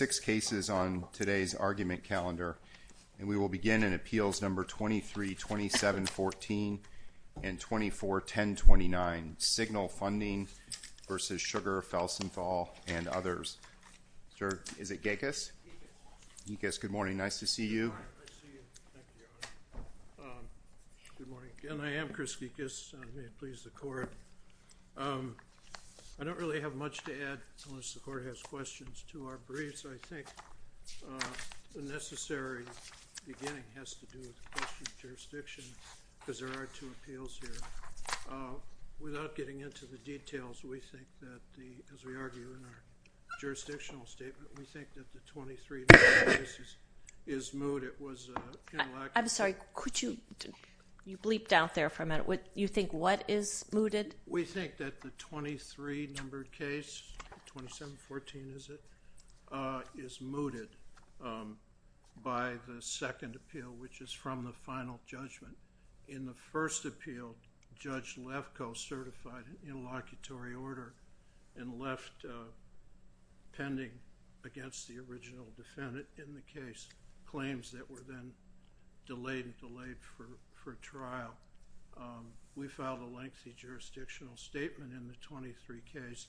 Six cases on today's argument calendar, and we will begin in Appeals No. 23-2714 and 24-1029, Signal Funding v. Sugar Felsenthal and others. Sir, is it Gekas? Gekas. Gekas, good morning. Nice to see you. All right. I see you. Thank you, Your Honor. Good morning. And I am Chris Gekas. May it please the Court. I don't really have much to add unless the Court has questions to our briefs. I think the necessary beginning has to do with the question of jurisdiction, because there are two appeals here. Without getting into the details, we think that the, as we argue in our jurisdictional statement, we think that the 23-numbered case is moot. It was inelastic. I'm sorry. Could you bleep down there for a minute? You think what is mooted? We think that the 23-numbered case, 2714 is it, is mooted by the second appeal, which is from the final judgment. In the first appeal, Judge Lefkoe certified an interlocutory order and left pending against the original defendant in the case claims that were then delayed for trial. We filed a lengthy jurisdictional statement in the 23 case,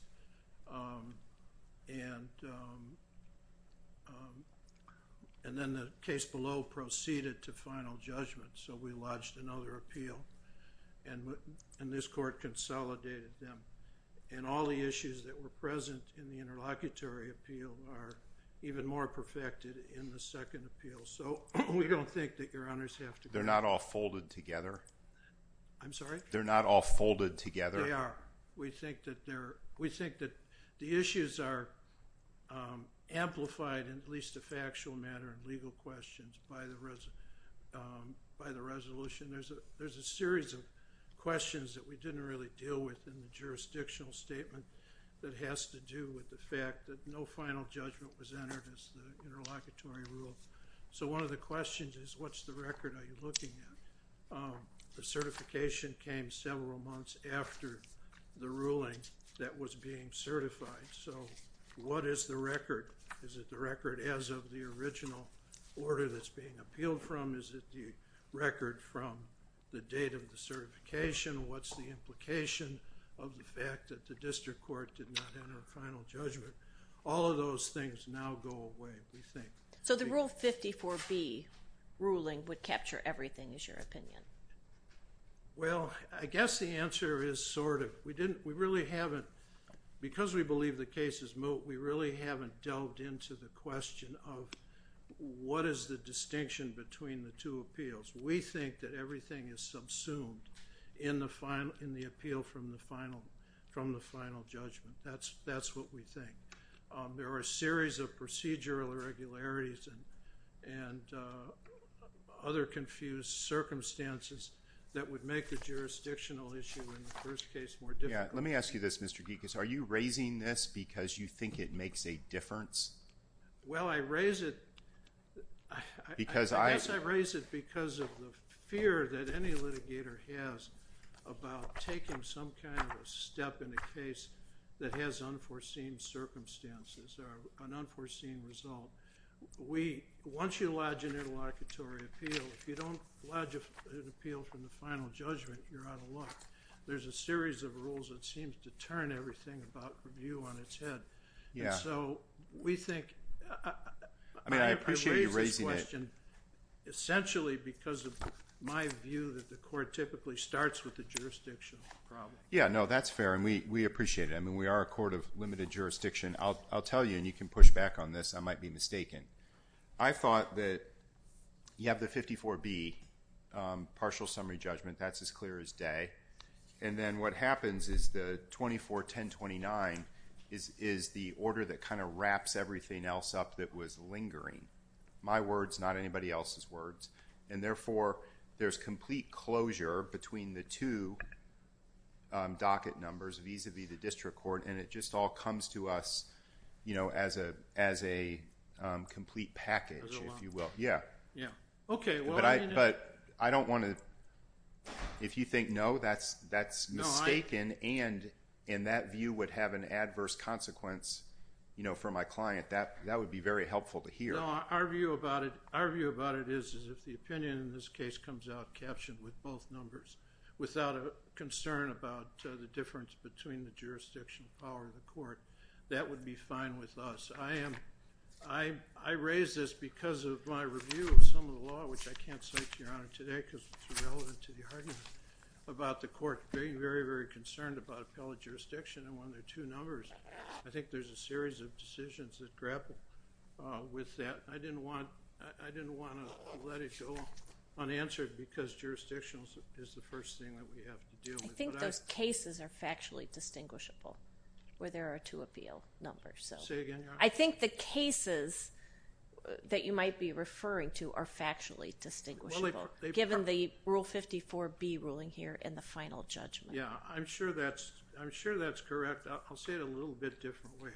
and then the case below proceeded to final judgment, so we lodged another appeal, and this Court consolidated them. And all the issues that were present in the interlocutory appeal are even more perfected in the second appeal, so we don't think that Your Honors have to go there. They're not all folded together? I'm sorry? They're not all folded together? They are. We think that the issues are amplified in at least a factual manner in legal questions by the resolution. There's a series of questions that we didn't really deal with in the jurisdictional statement that has to do with the fact that no final judgment was entered as the interlocutory rule. So one of the questions is, what's the record are you looking at? The certification came several months after the ruling that was being certified, so what is the record? Is it the record as of the original order that's being appealed from? Is it the record from the date of the certification? What's the implication of the fact that the district court did not enter a final judgment? All of those things now go away, we think. So the Rule 54B ruling would capture everything, is your opinion? Well, I guess the answer is sort of. We really haven't, because we believe the case is moot, we really haven't delved into the question of what is the distinction between the two appeals. We think that everything is subsumed in the appeal from the final judgment. That's what we think. There are a series of procedural irregularities and other confused circumstances that would make the jurisdictional issue in the first case more difficult. Yeah, let me ask you this, Mr. Geekus. Are you raising this because you think it makes a difference? Well, I raise it because of the fear that any litigator has about taking some kind of a step in a case that has unforeseen circumstances or an unforeseen result. Once you lodge an interlocutory appeal, if you don't lodge an appeal from the final judgment, you're out of luck. There's a series of rules that seems to turn everything about from you on its head. Yeah. And so, we think... I mean, I appreciate you raising it. I raise this question essentially because of my view that the court typically starts with the jurisdictional problem. Yeah, no, that's fair, and we appreciate it. I mean, we are a court of limited jurisdiction. I'll tell you, and you can push back on this, I might be mistaken. I thought that you have the 54B, partial summary judgment, that's as clear as day. And then what happens is the 24-1029 is the order that kind of wraps everything else up that was lingering. My words, not anybody else's words. And therefore, there's complete closure between the two docket numbers vis-a-vis the district court, and it just all comes to us as a complete package, if you will. But I don't want to... if you think, no, that's mistaken, and that view would have an adverse consequence for my client, that would be very helpful to hear. No, our view about it is if the opinion in this case comes out captioned with both numbers without a concern about the difference between the jurisdiction, the power of the court, that would be fine with us. I raised this because of my review of some of the law, which I can't cite to Your Honor today because it's irrelevant to the argument, about the court being very, very concerned about appellate jurisdiction, and when there are two numbers, I think there's a series of decisions that grapple with that. I didn't want to let it go unanswered because jurisdiction is the first thing that we have to deal with. I think those cases are factually distinguishable, where there are two appeal numbers. Say again, Your Honor? I think the cases that you might be referring to are factually distinguishable, given the Rule 54B ruling here and the final judgment. Yeah, I'm sure that's correct. I'll say it a little bit differently.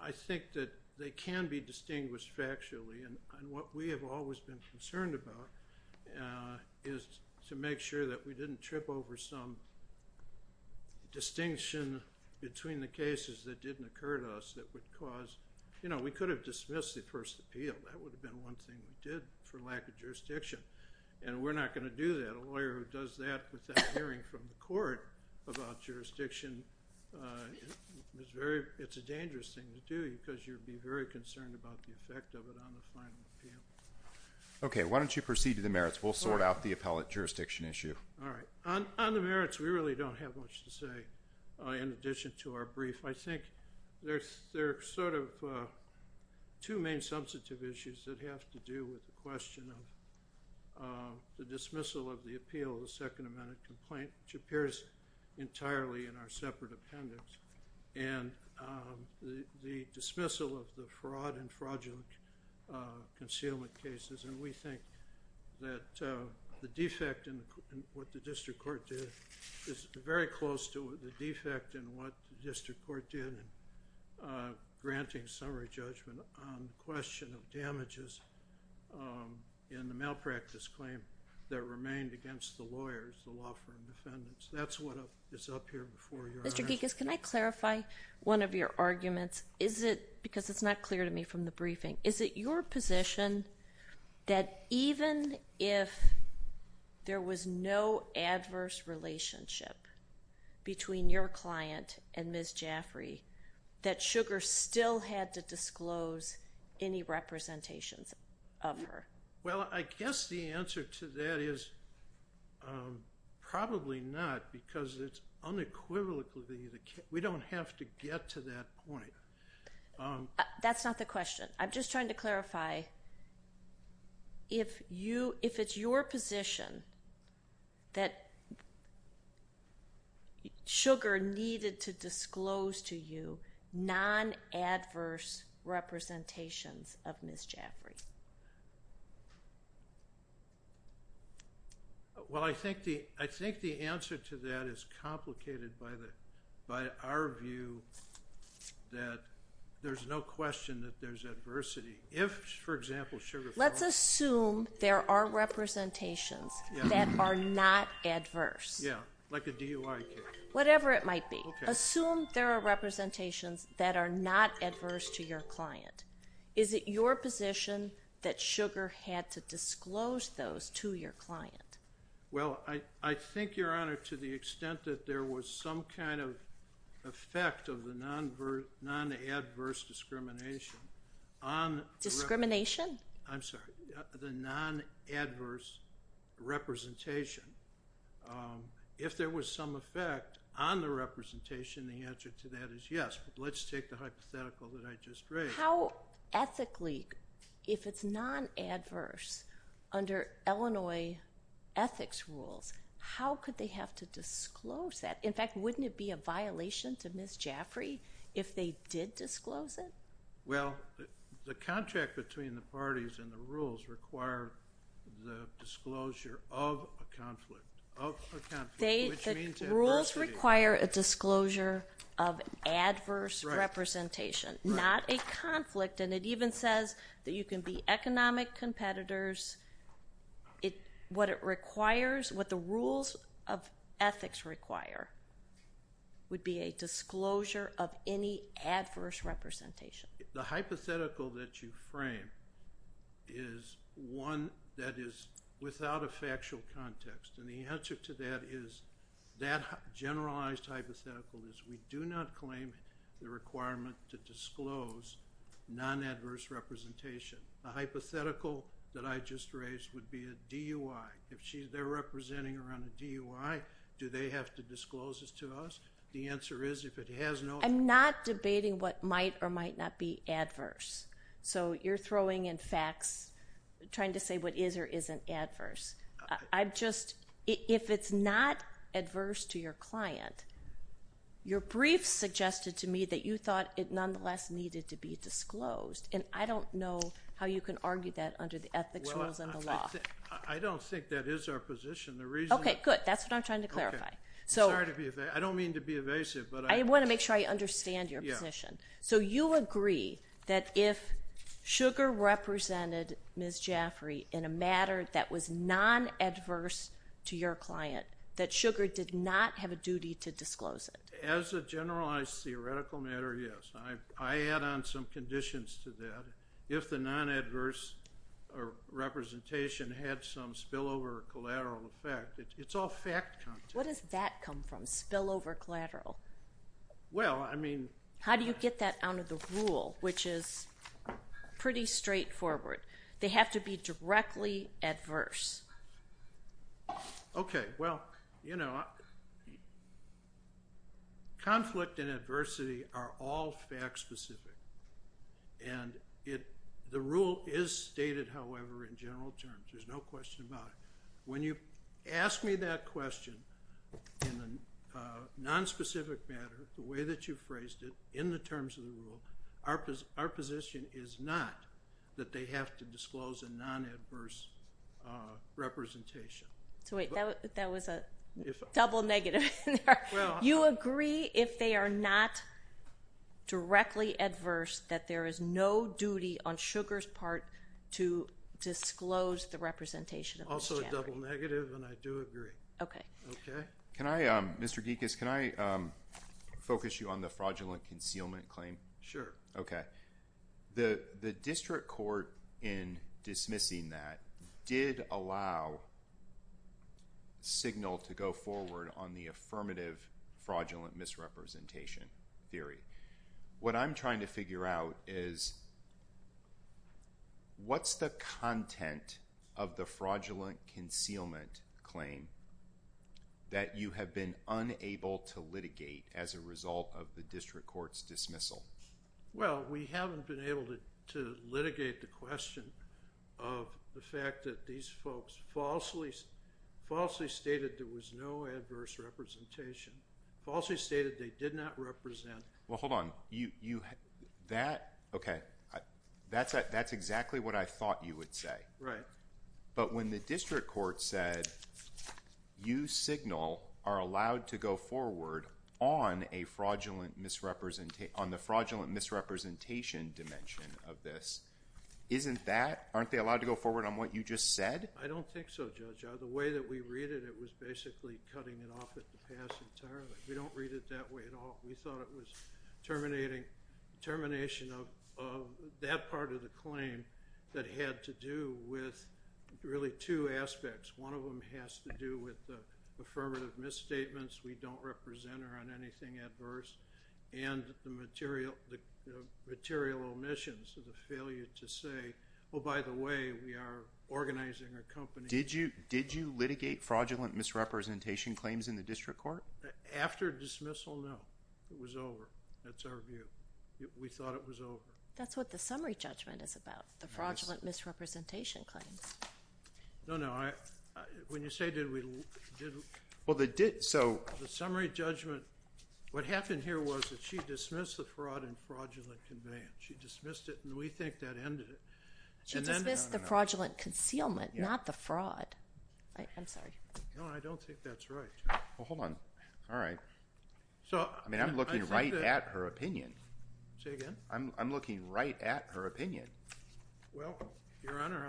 I think that they can be distinguished factually, and what we have always been concerned about is to make sure that we didn't trip over some distinction between the cases that didn't occur to us that would cause, you know, we could have dismissed the first appeal. That would have been one thing we did for lack of jurisdiction, and we're not going to do that. A lawyer who does that without hearing from the court about jurisdiction, it's a dangerous thing to do because you'd be very concerned about the effect of it on the final appeal. Okay, why don't you proceed to the merits. We'll sort out the appellate jurisdiction issue. All right. On the merits, we really don't have much to say in addition to our brief. I think there are sort of two main substantive issues that have to do with the question of the dismissal of the appeal of the Second Amendment complaint, which appears entirely in our separate appendix, and the dismissal of the fraud and fraudulent concealment cases. And we think that the defect in what the district court did is very close to the defect in what the district court did in granting summary judgment on the question of damages in the malpractice claim that remained against the lawyers, the law firm defendants. That's what is up here before your eyes. Mr. Gekas, can I clarify one of your arguments? Is it, because it's not clear to me from the briefing, is it your position that even if there was no adverse relationship between your client and Ms. Jaffrey, that Sugar still had to disclose any representations of her? Well, I guess the answer to that is probably not, because it's unequivocally, we don't have to get to that point. That's not the question. I'm just trying to clarify, if it's your position that Sugar needed to disclose to you non-adverse representations of Ms. Jaffrey? Well, I think the answer to that is complicated by our view that there's no question that there's adversity. If, for example, Sugar fell— Let's assume there are representations that are not adverse. Yeah, like a DUI case. Whatever it might be. Assume there are representations that are not adverse to your client. Is it your position that Sugar had to disclose those to your client? Well, I think, Your Honor, to the extent that there was some kind of effect of the non-adverse discrimination on— Discrimination? I'm sorry. The non-adverse representation. If there was some effect on the representation, the answer to that is yes, but let's take the hypothetical that I just raised. How ethically, if it's non-adverse, under Illinois ethics rules, how could they have to disclose that? In fact, wouldn't it be a violation to Ms. Jaffrey if they did disclose it? Well, the contract between the parties and the rules require the disclosure of a conflict. Rules require a disclosure of adverse representation, not a conflict. And it even says that you can be economic competitors. What the rules of ethics require would be a disclosure of any adverse representation. The hypothetical that you frame is one that is without a factual context. And the answer to that is—that generalized hypothetical is we do not claim the requirement to disclose non-adverse representation. The hypothetical that I just raised would be a DUI. If they're representing her on a DUI, do they have to disclose this to us? The answer is, if it has no— I'm not debating what might or might not be adverse. So you're throwing in facts, trying to say what is or isn't adverse. I'm just—if it's not adverse to your client, your brief suggested to me that you thought it nonetheless needed to be disclosed. And I don't know how you can argue that under the ethics rules and the law. Well, I don't think that is our position. The reason— Okay, good. That's what I'm trying to clarify. I'm sorry to be evasive. I don't mean to be evasive, but I— I want to make sure I understand your position. Yeah. So you agree that if Sugar represented Ms. Jaffrey in a matter that was non-adverse to your client, that Sugar did not have a duty to disclose it? As a generalized theoretical matter, yes. I add on some conditions to that. If the non-adverse representation had some spillover collateral effect, it's all fact. What does that come from, spillover collateral? Well, I mean— How do you get that out of the rule, which is pretty straightforward? They have to be directly adverse. Okay. Well, you know, conflict and adversity are all fact-specific. And the rule is stated, however, in general terms. There's no question about it. When you ask me that question in a nonspecific manner, the way that you phrased it, in the terms of the rule, our position is not that they have to disclose a non-adverse representation. So wait, that was a double negative. Well— If they are not directly adverse, that there is no duty on Sugar's part to disclose the representation of Ms. Jaffrey. Also a double negative, and I do agree. Okay. Okay? Can I—Mr. Geekas, can I focus you on the fraudulent concealment claim? Sure. Okay. The district court, in dismissing that, did allow signal to go forward on the affirmative fraudulent misrepresentation theory. What I'm trying to figure out is what's the content of the fraudulent concealment claim that you have been unable to litigate as a result of the district court's dismissal? Well, we haven't been able to litigate the question of the fact that these folks falsely stated there was no adverse representation, falsely stated they did not represent— Well, hold on. That—okay. That's exactly what I thought you would say. Right. But when the district court said, you signal are allowed to go forward on a fraudulent misrepresentation—on the fraudulent misrepresentation dimension of this, isn't that—aren't they allowed to go forward on what you just said? I don't think so, Judge. The way that we read it, it was basically cutting it off at the pass entirely. We don't read it that way at all. We thought it was terminating—termination of that part of the claim that had to do with really two aspects. One of them has to do with the affirmative misstatements, we don't represent her on anything adverse, and the material omissions of the failure to say, oh, by the way, we are organizing a company— Did you litigate fraudulent misrepresentation claims in the district court? After dismissal, no. It was over. That's our view. We thought it was over. That's what the summary judgment is about, the fraudulent misrepresentation claims. No, no. When you say did we— Well, the did—so— The summary judgment—what happened here was that she dismissed the fraud and fraudulent conveyance. She dismissed it, and we think that ended it. She dismissed the fraudulent concealment, not the fraud. I'm sorry. No, I don't think that's right. Well, hold on. All right. I mean, I'm looking right at her opinion. Say again? I'm looking right at her opinion. Well, Your Honor,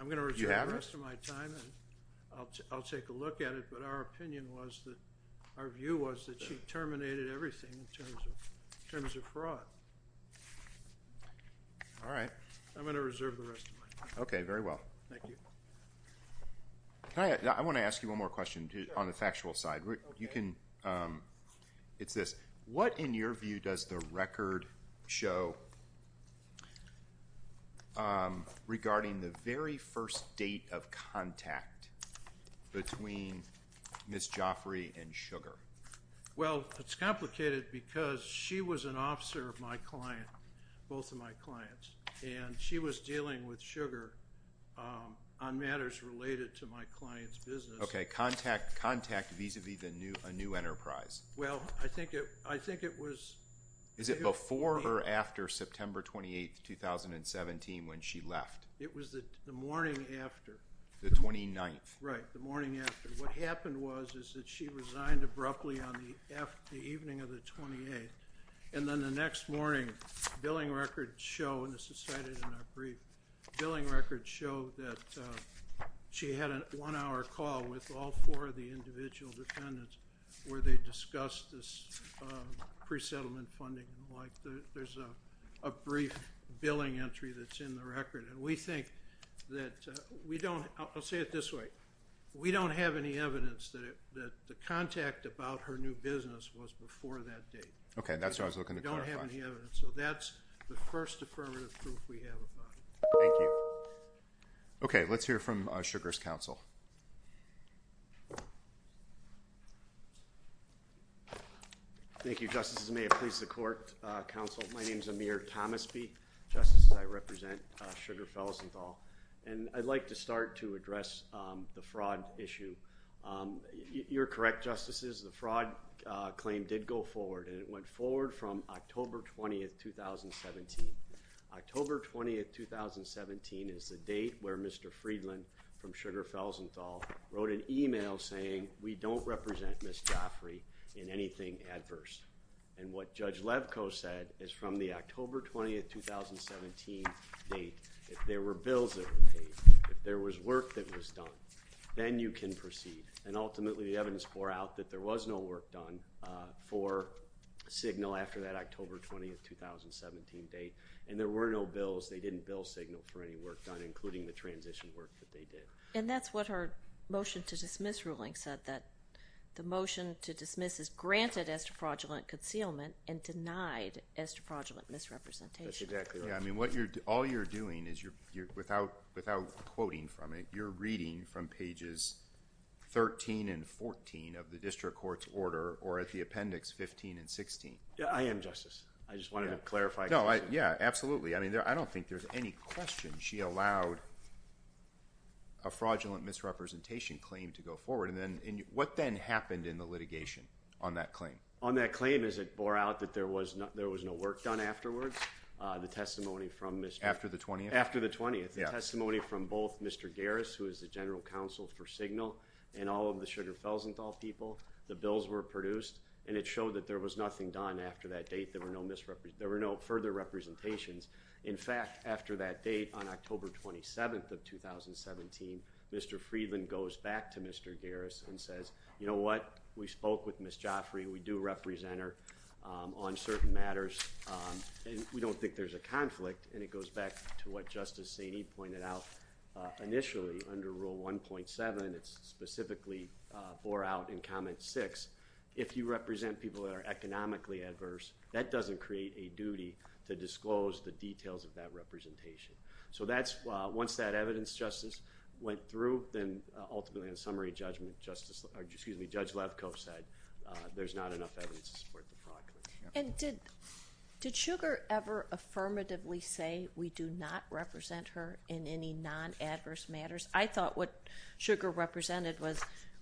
I'm going to reserve the rest of my time, and I'll take a look at it, but our opinion was that—our view was that she terminated everything in terms of fraud. All right. I'm going to reserve the rest of my time. Okay. Very well. Thank you. Can I—I want to ask you one more question on the factual side. Okay. It's this. What, in your view, does the record show regarding the very first date of contact between Ms. Joffrey and Sugar? Well, it's complicated because she was an officer of my client, both of my clients, and she was dealing with Sugar on matters related to my client's business. Okay. Contact vis-à-vis a new enterprise. Well, I think it was— Is it before or after September 28, 2017, when she left? It was the morning after. The 29th. Right, the morning after. What happened was is that she resigned abruptly on the evening of the 28th, and then the next morning, billing records show—and this is cited in our brief— billing records show that she had a one-hour call with all four of the individual defendants where they discussed this pre-settlement funding. There's a brief billing entry that's in the record. And we think that we don't—I'll say it this way. We don't have any evidence that the contact about her new business was before that date. Okay. That's what I was looking to clarify. We don't have any evidence. So that's the first affirmative proof we have about it. Thank you. Okay. Let's hear from Sugar's counsel. Thank you, Justices. May it please the Court, Counsel. My name is Amir Thomasby. Justices, I represent Sugar Felsenthal. And I'd like to start to address the fraud issue. You're correct, Justices. The fraud claim did go forward, and it went forward from October 20, 2017. October 20, 2017 is the date where Mr. Friedland from Sugar Felsenthal wrote an email saying, we don't represent Ms. Joffrey in anything adverse. And what Judge Levko said is from the October 20, 2017 date, if there were bills that were paid, if there was work that was done, then you can proceed. And ultimately, the evidence bore out that there was no work done for signal after that October 20, 2017 date. And there were no bills. They didn't bill signal for any work done, including the transition work that they did. And that's what her motion to dismiss ruling said, that the motion to dismiss is granted esterprodulent concealment and denied esterprodulent misrepresentation. That's exactly right. I mean, all you're doing is you're, without quoting from it, you're reading from pages 13 and 14 of the district court's order or at the appendix 15 and 16. Yeah, I am, Justice. I just wanted to clarify. No, yeah, absolutely. I mean, I don't think there's any question she allowed a fraudulent misrepresentation claim to go forward. And then what then happened in the litigation on that claim? On that claim is it bore out that there was no work done afterwards. The testimony from Mr. After the 20th? After the 20th. The testimony from both Mr. Garris, who is the general counsel for signal and all of the sugar fells and all people, the bills were produced and it showed that there was nothing done after that date. There were no misrepresentation. There were no further representations. In fact, after that date on October 27th of 2017, Mr. Friedland goes back to Mr. Garris and says, you know what? We spoke with Miss Joffrey. We do represent her on certain matters. And we don't think there's a conflict. And it goes back to what Justice Saini pointed out initially under rule 1.7. It's specifically bore out in comment six. If you represent people that are economically adverse, that doesn't create a duty to disclose the details of that representation. So that's once that evidence justice went through, then ultimately in summary judgment, justice or excuse me, Judge Lefkoe said there's not enough evidence to support the fraud. And did did sugar ever affirmatively say we do not represent her in any non adverse matters? I thought what sugar represented was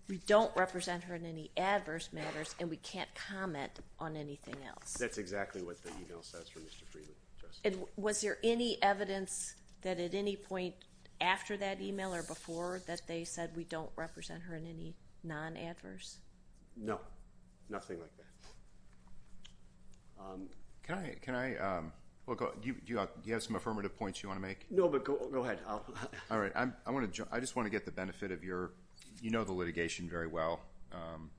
we don't represent her in any adverse matters and we can't comment on anything else. That's exactly what the email says for Mr. Freeman. And was there any evidence that at any point after that email or before that they said we don't represent her in any non adverse? No, nothing like that. Um, can I, can I, um, do you have some affirmative points you want to make? No, but go ahead. All right. I'm, I want to, I just want to get the benefit of your, you know, the litigation very well. Um,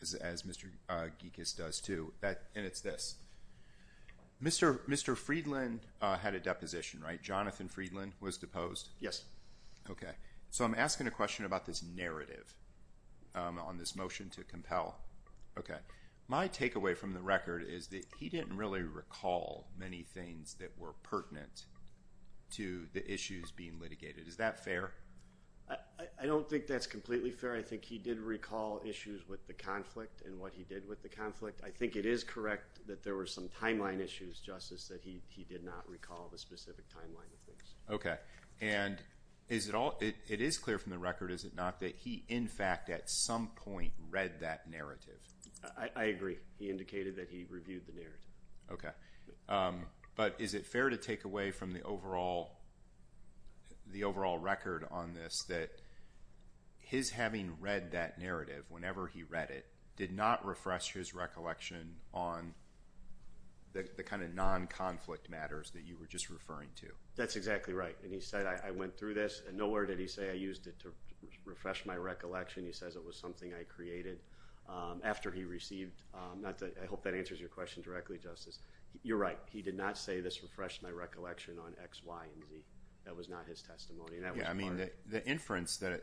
as, as Mr. Uh, geek is does to that. And it's this Mr. Mr. Friedland had a deposition, right? Jonathan Friedland was deposed. Yes. Okay. So I'm asking a question about this narrative, um, on this motion to compel. Okay. My takeaway from the record is that he didn't really recall many things that were pertinent to the issues being litigated. Is that fair? I don't think that's completely fair. I think he did recall issues with the conflict and what he did with the conflict. I think it is correct that there were some timeline issues. Justice said he, he did not recall the specific timeline of this. Okay. And is it all, it is clear from the record, is it not that he, in fact, at some point read that narrative? I agree. He indicated that he reviewed the narrative. Okay. Um, but is it fair to take away from the overall, the overall record on this, that his having read that narrative, whenever he read it, did not refresh his recollection on the, the kind of non conflict matters that you were just referring to. That's exactly right. And he said, I went through this and nowhere did he say I used it to refresh my recollection. He says it was something I created, um, after he received, um, not to, I hope that answers your question directly, justice. You're right. He did not say this refreshed my recollection on X, Y, and Z. That was not his testimony. Yeah. I mean, the inference that,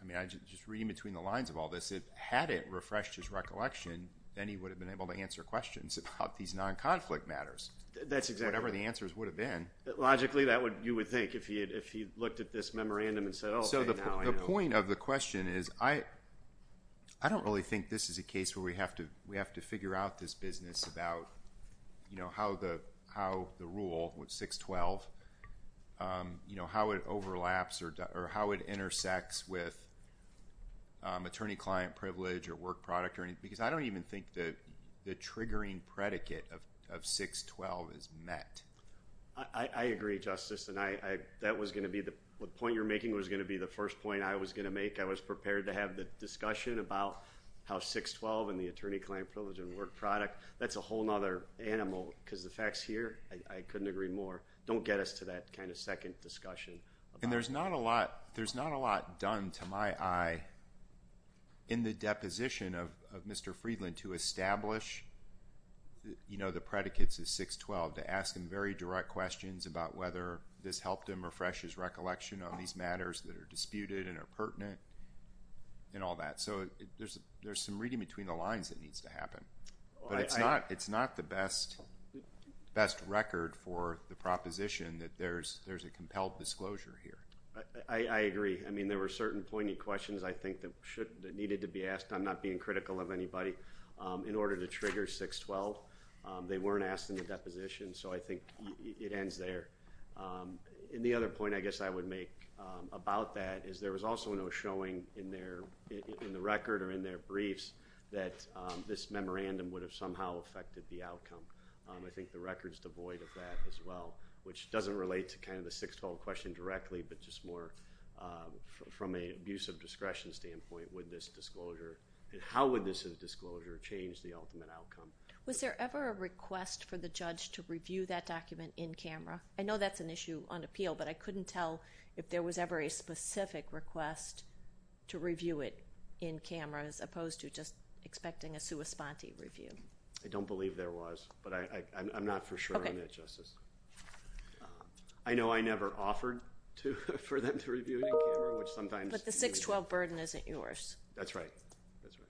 I mean, I just, just reading between the lines of all this, it hadn't refreshed his recollection. Then he would have been able to answer questions about these non conflict matters. That's exactly, whatever the answers would have been. Logically that would, you would think if he had, if he looked at this memorandum and said, you know, this is a case where we have to, we have to figure out this business about, you know, how the, how the rule with six 12, um, you know, how it overlaps or, or how it intersects with, um, attorney client privilege or work product or anything, because I don't even think that the triggering predicate of, of six 12 is met. I agree justice. And I, that was going to be the point you're making was going to be, the first point I was going to make, I was prepared to have the discussion about how six 12 and the attorney, client privilege and work product. That's a whole nother animal because the facts here, I couldn't agree more. Don't get us to that kind of second discussion. And there's not a lot. There's not a lot done to my eye in the deposition of, of Mr. Friedland to establish, you know, the predicates is six 12 to ask him very direct questions about whether this helped him refresh his recollection on these matters that are disputed and are pertinent and all that. So there's, there's some reading between the lines that needs to happen, but it's not, it's not the best, best record for the proposition that there's, there's a compelled disclosure here. I agree. I mean, there were certain poignant questions I think that should, that needed to be asked. I'm not being critical of anybody, um, in order to trigger six 12, um, they weren't asked in the deposition. So I think it ends there. Um, and the other point I guess I would make, about that is there was also no showing in there in the record or in their briefs that, this memorandum would have somehow affected the outcome. Um, I think the record is devoid of that as well, which doesn't relate to kind of the six 12 question directly, but just more, from a use of discretion standpoint with this disclosure, and how would this disclosure change the ultimate outcome? Was there ever a request for the judge to review that document in camera? I know that's an issue on appeal, but I couldn't tell if there was ever a specific request to review it in camera, as opposed to just expecting a sua sponte review. I don't believe there was, but I, I I'm not for sure on that justice. I know I never offered to, for them to review it in camera, which sometimes the six 12 burden isn't yours. That's right. That's right.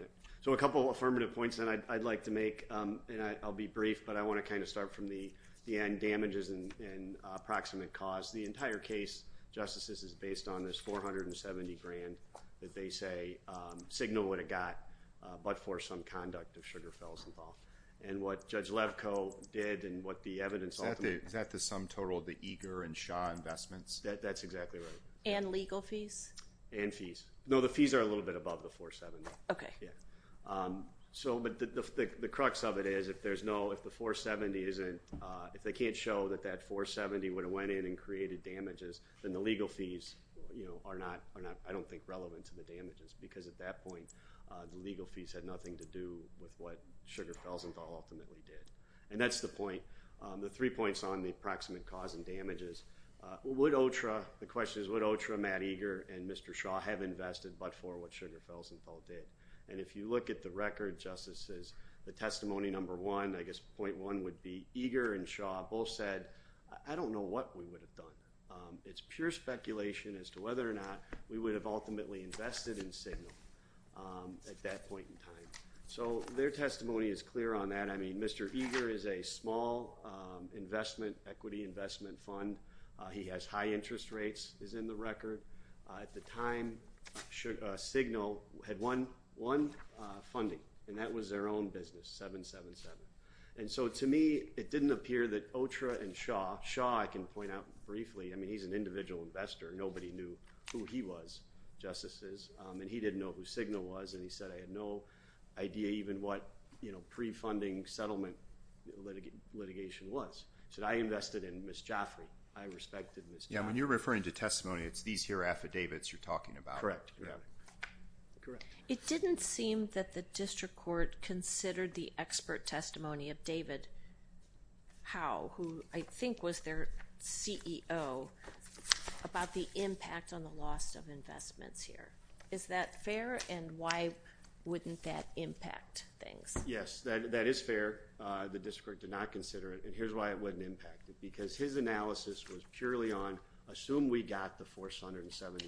Okay. So a couple of affirmative points that I'd like to make, um, and I I'll be brief, but I want to kind of start from the, the end damages and, and approximate cause the entire case justices is based on this 470 grand that they say, um, signal what it got, uh, but for some conduct of sugar fells involved and what judge Levco did and what the evidence. Is that the sum total of the eager and shy investments that that's exactly right. And legal fees and fees. No, the fees are a little bit above the four seven. Okay. Yeah. so, but the, the, the crux of it is if there's no, if the four 70 isn't, uh, if they can't show that that four 70 would have went in and created damages, then the legal fees, you know, are not, are not, I don't think relevant to the damages because at that point, uh, the legal fees had nothing to do with what sugar fells involved in that we did. And that's the point, um, the three points on the approximate cause and damages, uh, would ultra, the question is what ultra Matt eager and Mr. Shaw have invested, but for what sugar fells involved in. And if you look at the record justices, the testimony, number one, I guess point one would be eager and Shaw both said, I don't know what we would have done. Um, it's pure speculation as to whether or not we would have ultimately invested in signal, at that point in time. So their testimony is clear on that. I mean, Mr. Eager is a small, um, investment equity investment fund. Uh, he has high interest rates is in the record. at the time should, uh, signal had one, uh, funding and that was their own business. Seven, seven, And so to me, it didn't appear that ultra and Shaw, Shaw, I can point out briefly. I mean, he's an individual investor. Nobody knew who he was justices. Um, and he didn't know who signal was. And he said, I had no idea even what, you know, pre-funding settlement litigation litigation was. So I invested in Ms. Jaffrey. So I respected this. Yeah. When you're referring to testimony, it's these here affidavits you're talking about, correct? Correct. It didn't seem that the district court considered the expert testimony of David. How, who I think was their CEO about the impact on the loss of investments here. Is that fair? And why wouldn't that impact things? Yes, that, that is fair. Uh, the district did not consider it and here's why it wouldn't impact it. Because his analysis was purely on, assume we got the force, $170,000.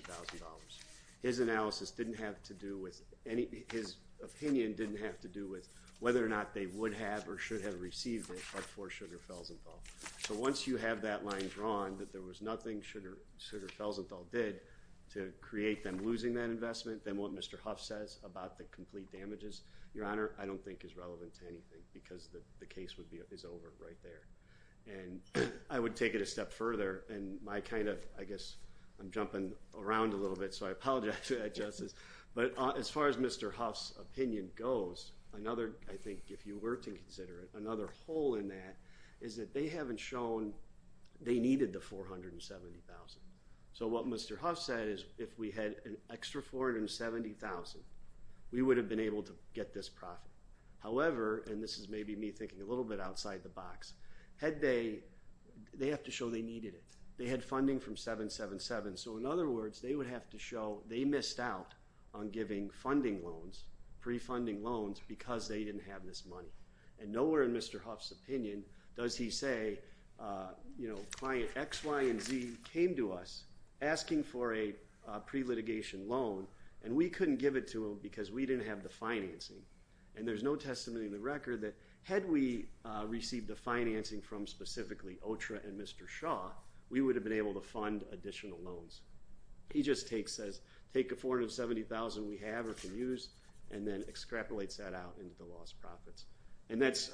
His analysis didn't have to do with any, his opinion didn't have to do with whether or not they would have, or should have received it before sugar fells involved. So once you have that line drawn, that there was nothing sugar, sugar fells, it all did to create them losing that investment. Then what Mr. Huff says about the complete damages, your honor, I don't think is relevant to anything because the case would be is over right there. And I would take it a step further. And my kind of, I guess I'm jumping around a little bit. So I apologize for that justice, but as far as Mr. Huff's opinion goes another, I think if you were to consider it, another hole in that is that they haven't shown they needed the 470,000. So what Mr. Huff said is if we had an extra 470,000, we would have been able to get this profit. However, and this is maybe me thinking a little bit outside the box head bay, they have to show they needed it. They had funding from seven, seven, So in other words, they would have to show they missed out on giving funding loans, pre-funding loans, because they didn't have this money and nowhere in Mr. Huff's opinion, does he say, you know, client X, Y, and Z came to us asking for a pre-litigation loan and we couldn't give it to him because we didn't have the financing. And there's no testimony in the record that had we received the financing from specifically ultra and Mr. Shaw, we would have been able to fund additional loans. He just takes, says, take afforded 70,000. We have, or can use, and then extrapolates that out into the lost profits. And that's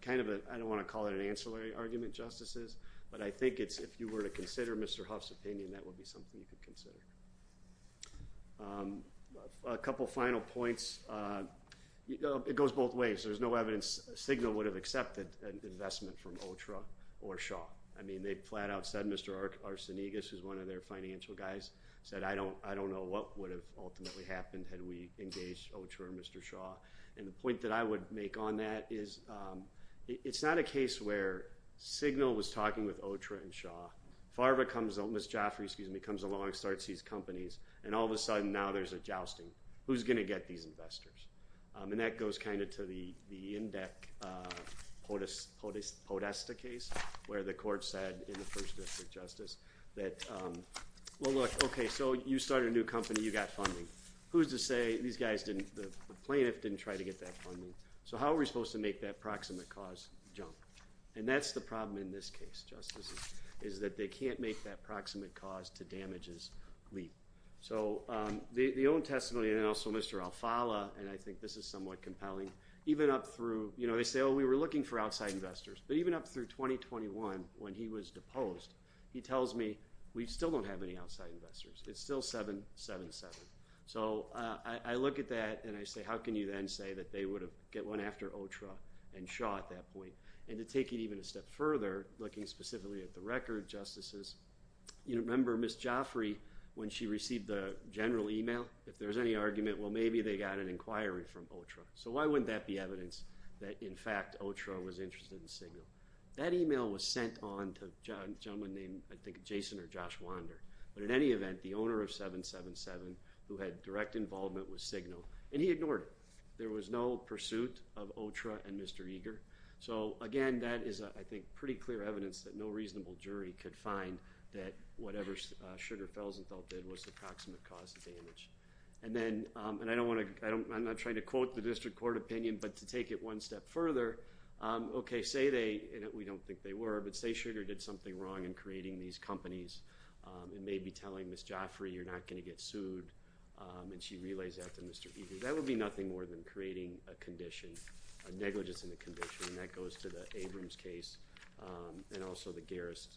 kind of a, I don't want to call it an ancillary argument justices, but I think it's, if you were to consider Mr. Huff's opinion, that would be something you could consider a couple of final points. It goes both ways. There's no evidence. Signal would have accepted an investment from old truck or Shaw. I mean, they flat out said, Mr. Art arson, EGIS is one of their financial guys said, I don't, I don't know what would have ultimately happened had we engaged. Oh, sure. Mr. Shaw. And the point that I would make on that is it's not a case where signal was talking with ultra and Shaw Farber comes on. Ms. Joffrey, excuse me, comes along and starts these companies. And all of a sudden now there's a jousting who's going to get these investors. I mean, that goes kind of to the, the index, uh, POTUS, POTUS, POTUS, the case where the court said in the first district justice that, um, well look, okay, so you started a new company, you got funding. Who's to say these guys didn't, the plaintiff didn't try to get that funding. So how are we supposed to make that proximate cause jump? And that's the problem in this case. Justices is that they can't make that proximate cause to damages. So, um, the, the, the own testimony and also Mr. Alfala. And I think this is somewhat compelling, even up through, you know, they say, Oh, we were looking for outside investors, but even up through 2021, when he was deposed, he tells me we still don't have any outside investors. It's still seven, seven, So, uh, I look at that and I say, how can you then say that they would have get one after ultra and Shaw at that point. And to take it even a step further, looking specifically at the record justices, you remember Ms. Joffrey, when she received the general email, if there's any argument, well, maybe they got an inquiry from ultra. So why wouldn't that be evidence that in fact, ultra was interested in signal. That email was sent on to John gentleman named, I think, Jason or Josh wander. But in any event, the owner of seven, seven, who had direct involvement with signal and he ignored it. There was no pursuit of ultra and Mr. Eager. So again, that is, I think pretty clear evidence that no reasonable jury could find that whatever sugar fells and felt that it was the approximate cause of damage. And then, and I don't want to, I don't, I'm not trying to quote the district court opinion, but to take it one step further. Um, okay. Say they, and we don't think they were, but say sugar did something wrong in creating these companies. Um, and maybe telling Ms. Joffrey, you're not going to get sued. Um, and she relays that to Mr. Eager, that would be nothing more than creating a condition of negligence in the condition. And that goes to the Abrams case. Um, and also the garris.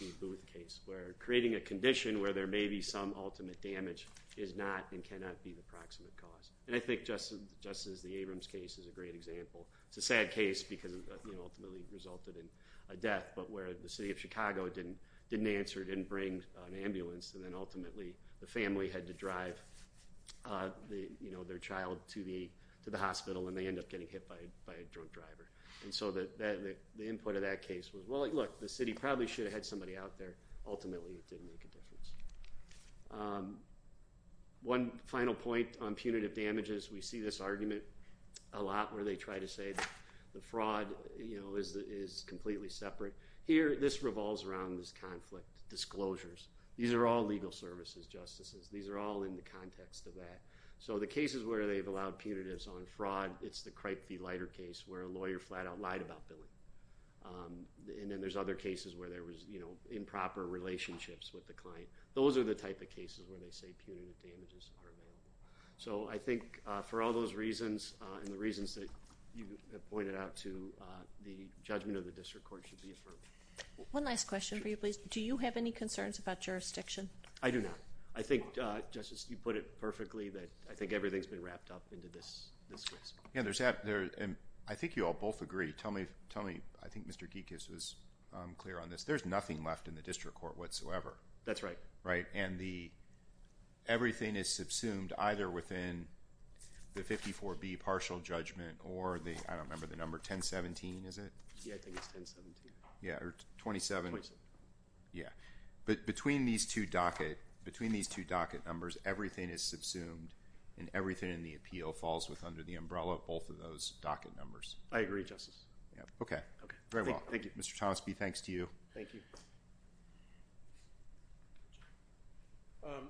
The case where creating a condition where there may be some ultimate damage is not, and cannot be the proximate cause. And I think just as, just as the Abrams case is a great example, it's a sad case because ultimately resulted in a death, but where the city of Chicago didn't, didn't answer, didn't bring an ambulance. And then ultimately the family had to drive, uh, the, you know, their child to the, to the hospital and they ended up getting hit by, by a drunk driver. And so that, that the input of that case was, well, look, the city probably should have had somebody out there. it didn't make a difference. Um, one final point on punitive damages. We see this argument a lot where they try to say the fraud, you know, is, is completely separate here. This revolves around this conflict disclosures. These are all legal services, justices. These are all in the context of that. So the cases where they've allowed punitives on fraud, it's the cripe, the lighter case where a lawyer flat out lied about Billy. Um, and then there's other cases where there was, you know, improper relationships with the client. Those are the type of cases where they say punitive damages. So I think, uh, for all those reasons, uh, and the reasons that you have pointed out to, the judgment of the district court should be affirmed. One last question for you, please. Do you have any concerns about jurisdiction? I do not. I think, justice, you put it perfectly that I think everything's been wrapped up into this. Yeah, there's that there. And I think you all both agree. Tell me, tell me, I think Mr. Geek is, um, clear on this. There's nothing left in the district court whatsoever. That's right. Right. And the, everything is subsumed either within the 54 B partial judgment or the, I don't remember the number 10 17, is it? Yeah. I think it's 10 17. Yeah. Or 27. Yeah. But between these two docket, between these two docket numbers, everything is subsumed and everything in the appeal falls with under the docket numbers. Justice. Yeah. Okay. Okay. Very well. Thank you, Mr. Thomas B. Thanks to you. Thank you. Um,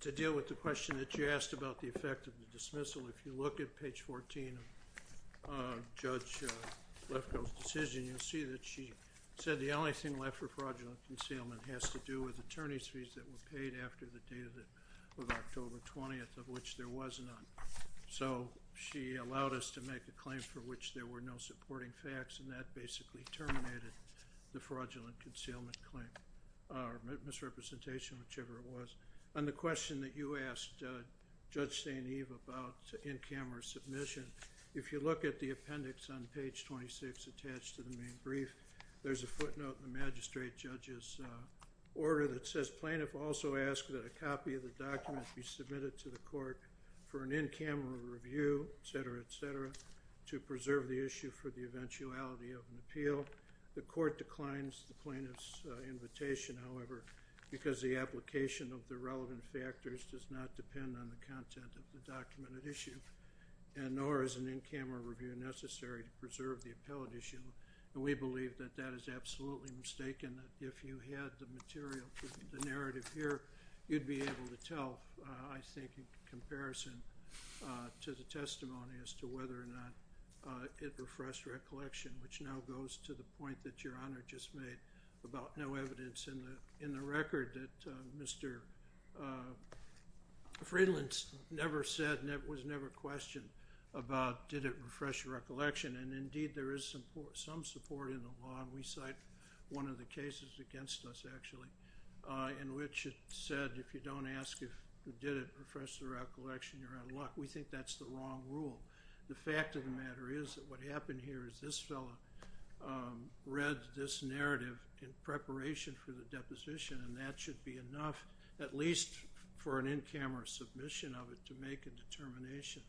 to deal with the question that you asked about the effect of the dismissal. If you look at page 14, uh, judge, uh, let's go decision. You'll see that she said the only thing left for fraudulent concealment has to do with attorney's fees that were paid after the day of the, of October 20th, of which there was none. So she allowed us to make a claim for which there were no supporting facts. And that basically terminated the fraudulent concealment claim, uh, misrepresentation, whichever it was on the question that you asked, uh, judge St. Eve about in-camera submission. If you look at the appendix on page 26, attached to the main brief, there's a footnote in the magistrate judges, uh, order that says, plaintiff also asked that a copy of the documents be submitted to the court. For an in-camera review, et cetera, to preserve the issue for the eventuality of an appeal. The court declines the plaintiff's, uh, however, because the application of the relevant factors does not depend on the content of the documented issue. And nor is an in-camera review necessary to preserve the appellate issue. And we believe that that is absolutely mistaken. If you had the material, the narrative here, you'd be able to tell. Uh, I think in comparison, uh, to the testimony as to whether or not, uh, it refreshed recollection, which now goes to the point that your honor just made about no evidence in the, in the record that, uh, Mr. Uh, Friedland's never said, and it was never questioned about, did it refresh your recollection? And indeed there is some support, some support in the law. And we cite one of the cases against us, actually, uh, in which it said, if you don't ask, if you did it refresh the recollection, you're out of luck. We think that's the long rule. The fact of the matter is that what happened here is this fella, um, read this narrative in preparation for the deposition. And that should be enough, at least for an in-camera submission of it to make a determination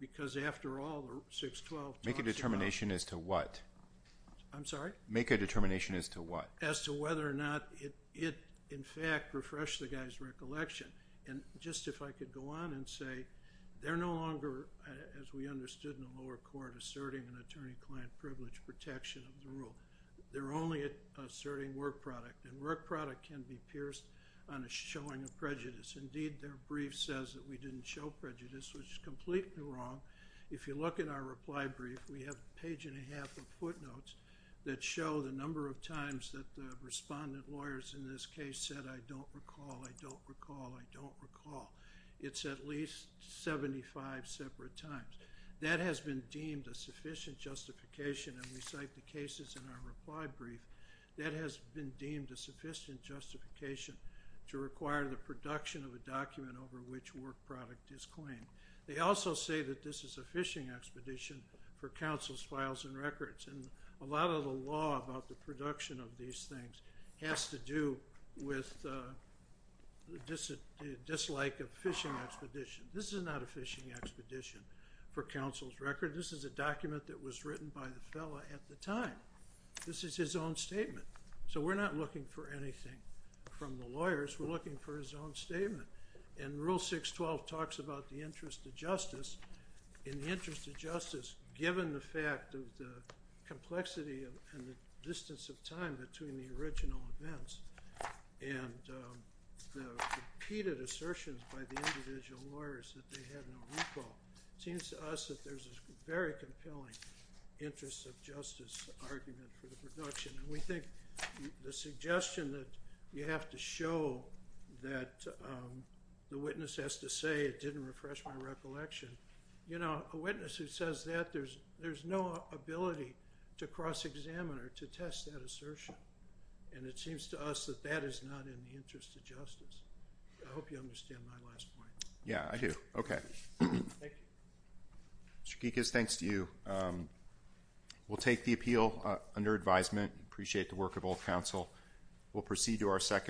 because after all, six, 12 make a determination as to what I'm sorry, make a determination as to what as to whether or not it, it, in fact, refresh the guy's recollection. And just if I could go on and say, they're no longer, as we understood in the lower court, asserting an attorney client privilege protection of the rule. They're only asserting work product and work product can be pierced on a showing of prejudice. Indeed, their brief says that we didn't show prejudice, which is completely wrong. If you look at our reply brief, we have page and a half of footnotes that show the number of times that the respondent lawyers in this case said, I don't recall. I don't recall. I don't recall. It's at least 75 separate times that has been deemed a sufficient justification. And we cite the cases in our reply brief that has been deemed a sufficient justification to require the production of a document over which work product is claimed. They also say that this is a fishing expedition for councils, files and records. And a lot of the law about the production of these things has to do with the dislike of fishing expedition. This is not a fishing expedition for council's record. This is a document that was written by the fella at the time. This is his own statement. So we're not looking for anything from the lawyers. We're looking for his own statement and rule six 12 talks about the interest of justice in the interest of justice, given the fact that the complexity and the distance of time between the original events and the repeated assertions by the individual lawyers that they have no recall, it seems to us that there's a very compelling interest of justice argument for the production. And we think the suggestion that you have to show that the witness has to say, it didn't refresh my recollection. You know, a witness who says that there's, there's no ability to cross examine or to test that assertion. And it seems to us that that is not in the interest of justice. I hope you understand my last point. Yeah, I do. Okay. Mr. Geek is thanks to you. Um, we'll take the appeal, uh, under advisement. Appreciate the work of old council. We'll proceed to our second.